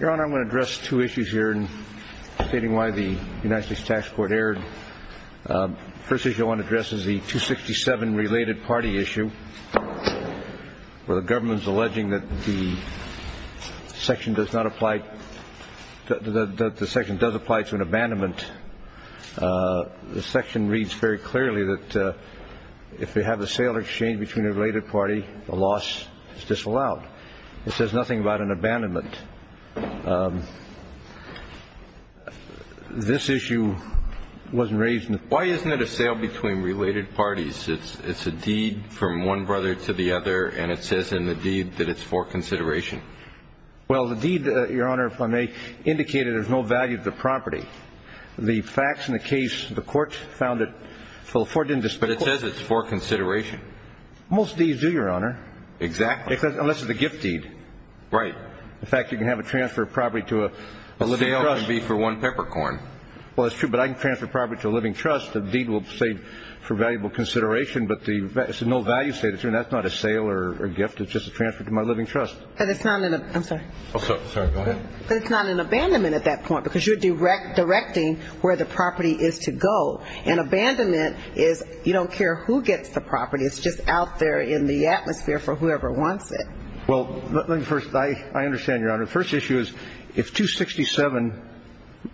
Your Honor, I'm going to address two issues here in stating why the United States Tax Court erred. The first issue I want to address is the 267 related party issue where the government is alleging that the section does not apply to an abandonment. The section reads very clearly that if we have a sale or exchange between a related party, a loss is disallowed. It says nothing about an abandonment. This issue wasn't raised in the court. Why isn't it a sale between related parties? It's a deed from one brother to the other and it says in the deed that it's for consideration. Well, the deed, Your Honor, if I may, indicated there's no value to the property. The facts in the case, the court found it, the court didn't dispute it. But it says it's for consideration. Most deeds do, Your Honor. Exactly. Unless it's a gift deed. Right. In fact, you can have a transfer of property to a living trust. A sale would be for one peppercorn. Well, that's true, but I can transfer property to a living trust. The deed will say for valuable consideration, but the no value statement, that's not a sale or gift, it's just a transfer to my living trust. It's not an abandonment at that point because you're directing where the property is to go. An abandonment is you don't care who gets the property, it's just out there in the atmosphere for whoever wants it. Well, let me first, I understand, Your Honor. The first issue is if 267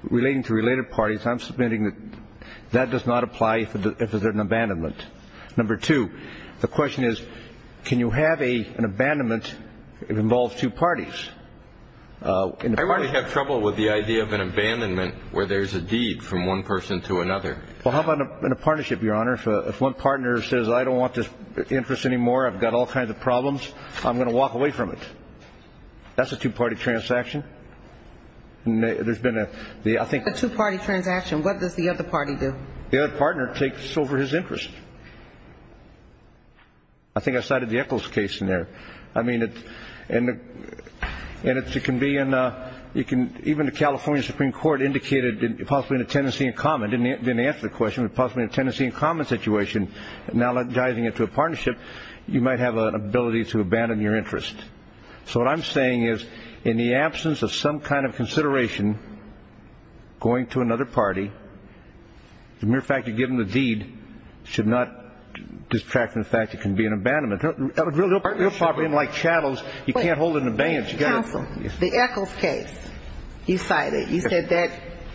relating to related parties, I'm submitting that that does not apply if there's an abandonment. Number two, the question is, can you have an abandonment that involves two parties? I really have trouble with the idea of an abandonment where there's a deed from one person to another. Well, how about in a partnership, Your Honor? If one partner says, I don't want this interest anymore, I've got all kinds of problems, I'm going to walk away from it. That's a two-party transaction. There's been a, I think. A two-party transaction. What does the other party do? The other partner takes over his interest. I think I cited the Eccles case in there. I mean, and it can be in a, you can, even the California Supreme Court indicated possibly in a tenancy in common, didn't answer the question, but possibly a tenancy in common situation, analogizing it to a partnership, you might have an ability to abandon your interest. So what I'm saying is, in the absence of some kind of consideration, going to another party, the mere fact you're given the deed should not distract from the fact that it can be an abandonment. A real property, unlike chattels, you can't hold it in abeyance. Counsel, the Eccles case, you cited, you said that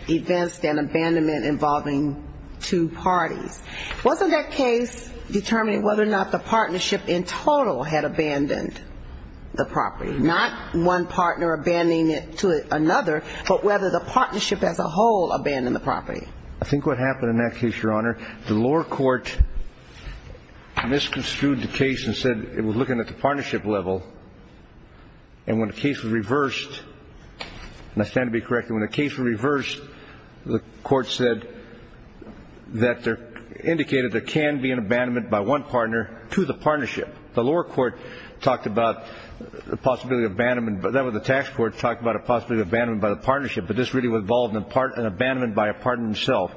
it advanced an abandonment involving two parties. Wasn't that case determining whether or not the partnership in total had abandoned the property? I think what happened in that case, Your Honor, the lower court misconstrued the case and said it was looking at the partnership level. And when the case was reversed, and I stand to be corrected, when the case was reversed, the court said that there, indicated there can be an abandonment by one partner to the partnership. The lower court talked about the possibility of abandonment, that was the tax court, talked about a possibility of abandonment by the partnership, but this really involved an abandonment by a partner himself.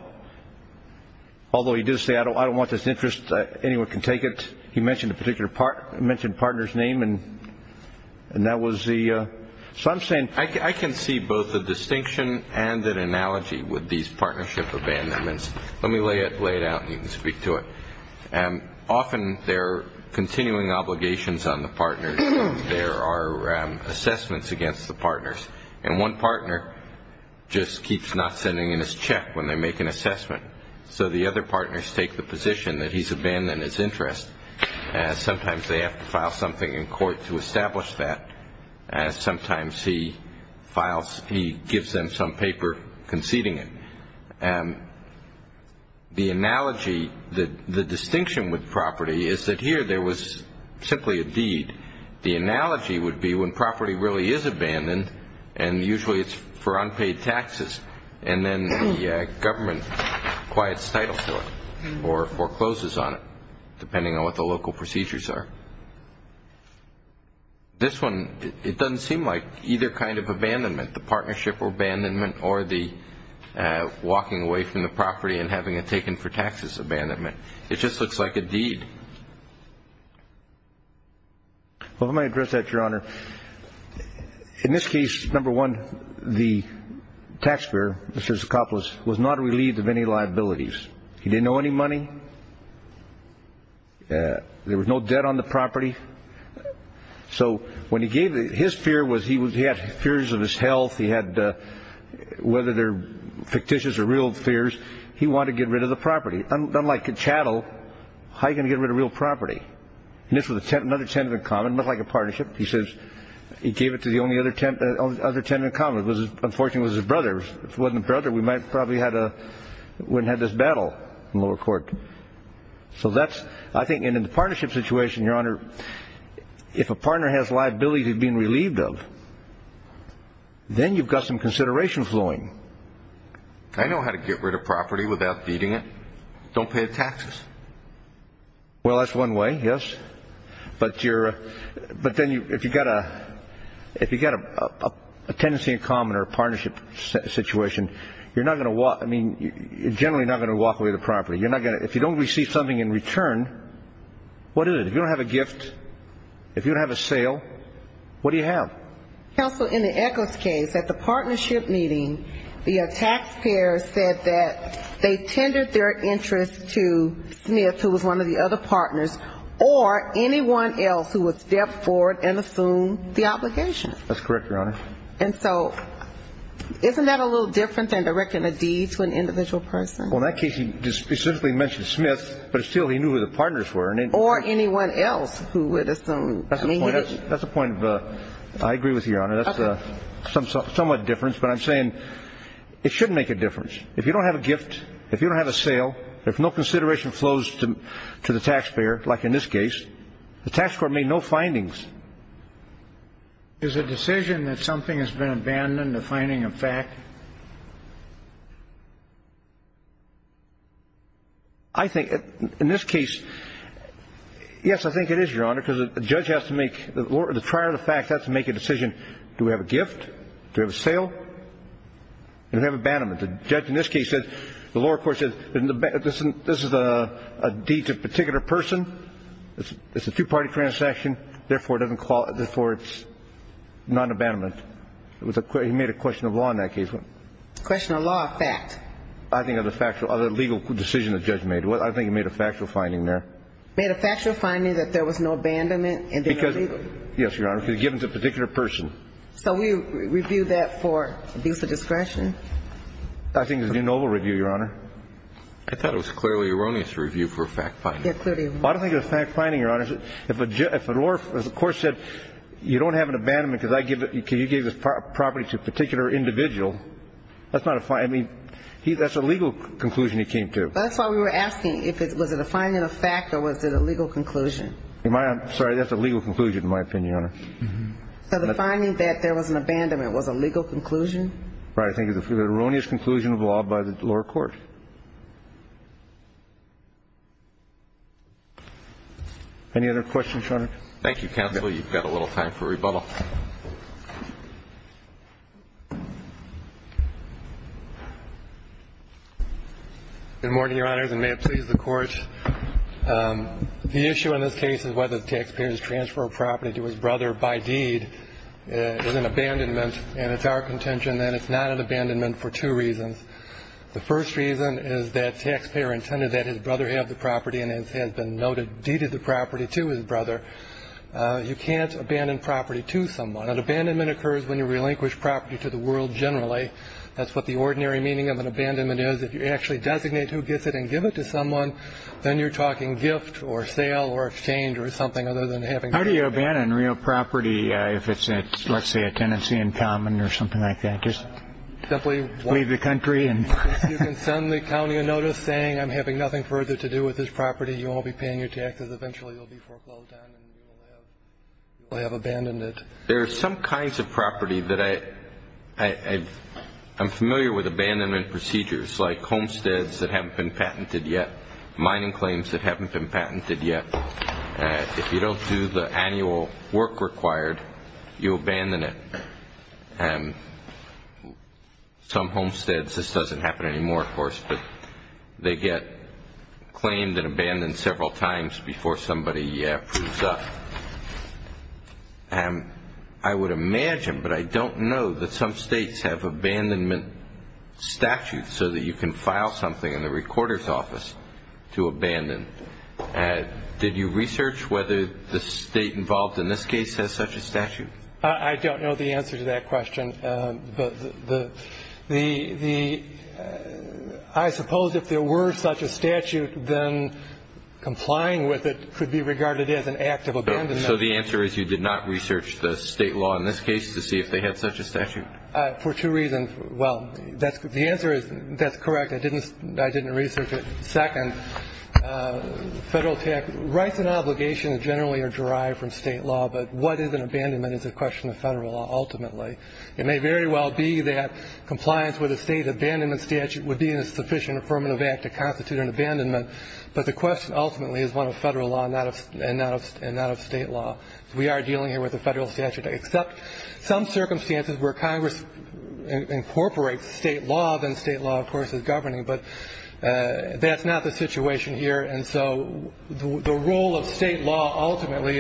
Although he did say, I don't want this interest, anyone can take it. He mentioned a particular partner, mentioned a partner's name, and that was the, so I'm saying. I can see both a distinction and an analogy with these partnership abandonments. Let me lay it out and you can speak to it. Often there are continuing obligations on the partners. There are assessments against the partners. And one partner just keeps not sending in his check when they make an assessment. So the other partners take the position that he's abandoned his interest. Sometimes they have to file something in court to establish that. Sometimes he files, he gives them some paper conceding it. The analogy, the distinction with property is that here there was simply a deed. The analogy would be when property really is abandoned, and usually it's for unpaid taxes, and then the government quiets title to it or forecloses on it, depending on what the local procedures are. This one, it doesn't seem like either kind of abandonment, the partnership abandonment or the walking away from the property and having it taken for taxes abandonment. It just looks like a deed. Well, let me address that, Your Honor. In this case, number one, the taxpayer, Mr. Zacoplos, was not relieved of any liabilities. He didn't owe any money. There was no debt on the property. So when he gave it, his fear was he had fears of his health. He had, whether they're fictitious or real fears, he wanted to get rid of the property. Unlike a chattel, how are you going to get rid of real property? And this was another tenant in common, looked like a partnership. He says he gave it to the only other tenant in common. Unfortunately, it was his brother. If it wasn't his brother, we might probably wouldn't have had this battle in lower court. So that's, I think, in the partnership situation, Your Honor, if a partner has liabilities he's been relieved of, then you've got some consideration flowing. I know how to get rid of property without feeding it. Don't pay the taxes. Well, that's one way, yes. But you're, but then if you've got a, if you've got a tenancy in common or partnership situation, you're not going to walk, I mean, you're generally not going to walk away the property. You're not going to, if you don't receive something in return, what is it? If you don't have a gift, if you don't have a sale, what do you have? Counsel, in the Echols case, at the partnership meeting, the taxpayers said that they tendered their interest to Smith, who was one of the other partners, or anyone else who would step forward and assume the obligation. That's correct, Your Honor. And so isn't that a little different than directing a deed to an individual person? Well, in that case, he specifically mentioned Smith, but still he knew who the partners were. Or anyone else who would assume the obligation. That's the point of, I agree with you, Your Honor. That's somewhat different. But I'm saying it should make a difference. If you don't have a gift, if you don't have a sale, if no consideration flows to the taxpayer, like in this case, the tax court made no findings. Is the decision that something has been abandoned a finding of fact? I think, in this case, yes, I think it is, Your Honor, because a judge has to make, the trial of the fact has to make a decision, do we have a gift, do we have a sale, do we have abandonment? The judge in this case says, the lower court says, this is a deed to a particular person, it's a two-party transaction, therefore, it's non-abandonment. Well, in this case, it's not an abandonment. Question of law or fact? I think of the legal decision the judge made. I think he made a factual finding there. Made a factual finding that there was no abandonment? Yes, Your Honor, because it was given to a particular person. So we review that for abuse of discretion? I think it's a de novo review, Your Honor. I thought it was a clearly erroneous review for a fact finding. I don't think it's a fact finding, Your Honor. If the lower court said, you don't have an abandonment, that's a legal conclusion he came to. That's why we were asking, was it a finding of fact or was it a legal conclusion? Sorry, that's a legal conclusion, in my opinion, Your Honor. So the finding that there was an abandonment was a legal conclusion? Right, I think it was an erroneous conclusion of law by the lower court. Any other questions, Your Honor? Good morning, Your Honors, and may it please the Court. The issue in this case is whether the taxpayer has transferred property to his brother by deed is an abandonment, and it's our contention that it's not an abandonment for two reasons. The first reason is that the taxpayer intended that his brother have the property and it has been noted, deeded the property to his brother. You can't abandon property to someone. An abandonment occurs when you relinquish property to the world generally. That's what the ordinary meaning of an abandonment is. If you actually designate who gets it and give it to someone, then you're talking gift or sale or exchange or something other than having... How do you abandon real property if it's, let's say, a tenancy in common or something like that? Just simply leave the country and... You can send the county a notice saying, I'm having nothing further to do with this property, you won't be paying your taxes, eventually you'll be foreclosed on and you will have abandoned it. There are some kinds of property that I... I'm familiar with abandonment procedures like homesteads that haven't been patented yet, mining claims that haven't been patented yet. If you don't do the annual work required, you abandon it. Some homesteads, this doesn't happen anymore, of course, but they get claimed and abandoned several times before somebody proves up. I would imagine, but I don't know, that some states have abandonment statutes so that you can file something in the recorder's office to abandon. Did you research whether the state involved in this case has such a statute? I don't know the answer to that question, but the... I suppose if there were such a statute, then complying with it could be regarded as an act of abandonment. So the answer is you did not research the state law in this case to see if they had such a statute? For two reasons. Well, the answer is, that's correct, I didn't research it. Second, federal tax... Rights and obligations generally are derived from state law, but what is an abandonment is a question of federal law, ultimately. It may very well be that compliance with a state abandonment statute would be a sufficient affirmative act to constitute an abandonment, but the question ultimately is one of federal law and not of state law. We are dealing here with a federal statute, except some circumstances where Congress incorporates state law, then state law, of course, is governing, but that's not the situation here. And so the role of state law ultimately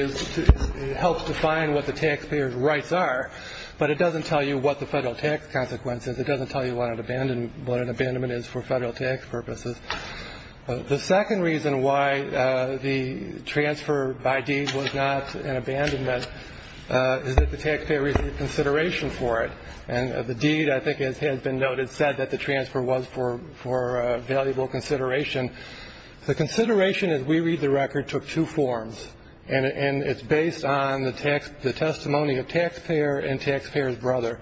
helps define what the taxpayer's rights are, but it doesn't tell you what the federal tax consequence is. It doesn't tell you what an abandonment is for federal tax purposes. The second reason why the transfer by deed was not an abandonment is that the taxpayer received consideration for it. And the deed, I think, has been noted, said that the transfer was for valuable consideration. The consideration, as we read the record, took two forms, and it's based on the testimony of taxpayer and taxpayer's brother,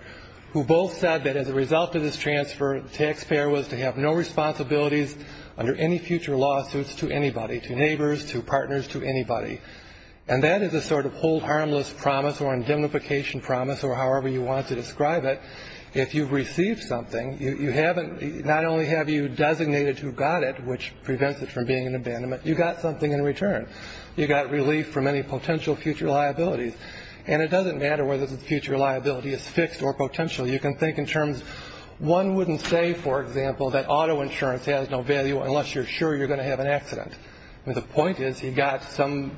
who both said that as a result of this transfer, the taxpayer was to have no responsibilities under any future lawsuits to anybody, to neighbors, to partners, to anybody. And that is a sort of hold harmless promise or indemnification promise or however you want to describe it. If you've received something, not only have you designated who got it, which prevents it from being an abandonment, you got something in return. You got relief from any potential future liabilities. And it doesn't matter whether the future liability is fixed or potential. You can think in terms, one wouldn't say, for example, that auto insurance has no value unless you're sure you're going to have an accident. The point is you got some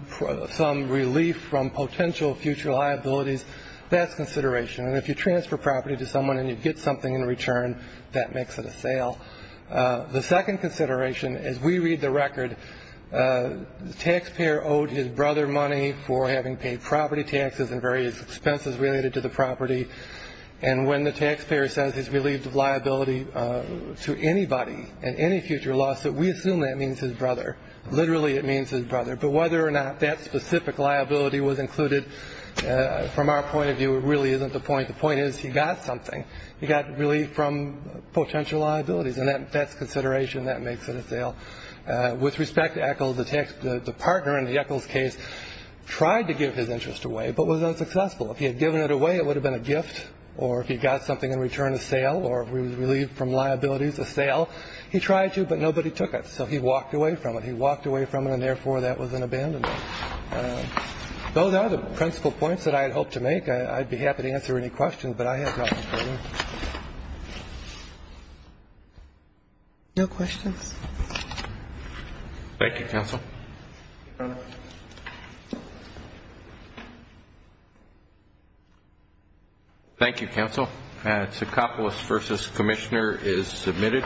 relief from potential future liabilities. That's consideration. And if you transfer property to someone and you get something in return, that makes it a sale. The second consideration, as we read the record, the taxpayer owed his brother money for having paid property taxes and various expenses related to the property. And when the taxpayer says he's relieved of liability to anybody in any future lawsuit, we assume that means his brother. Literally, it means his brother. But whether or not that specific liability was included, from our point of view, it really isn't the point. The point is he got something. He got relief from potential liabilities. And that's consideration. That makes it a sale. With respect to Echols, the partner in the Echols case tried to give his interest away but was unsuccessful. If he had given it away, it would have been a gift. Or if he got something in return, a sale. Or if he was relieved from liabilities, a sale. He tried to, but nobody took it. So he walked away from it. He walked away from it, and therefore that was an abandonment. Those are the principal points that I had hoped to make. I'd be happy to answer any questions, but I have nothing further. Thank you. No questions. Thank you, counsel. Thank you, counsel. And it's a Kaplos v. Commissioner is submitted.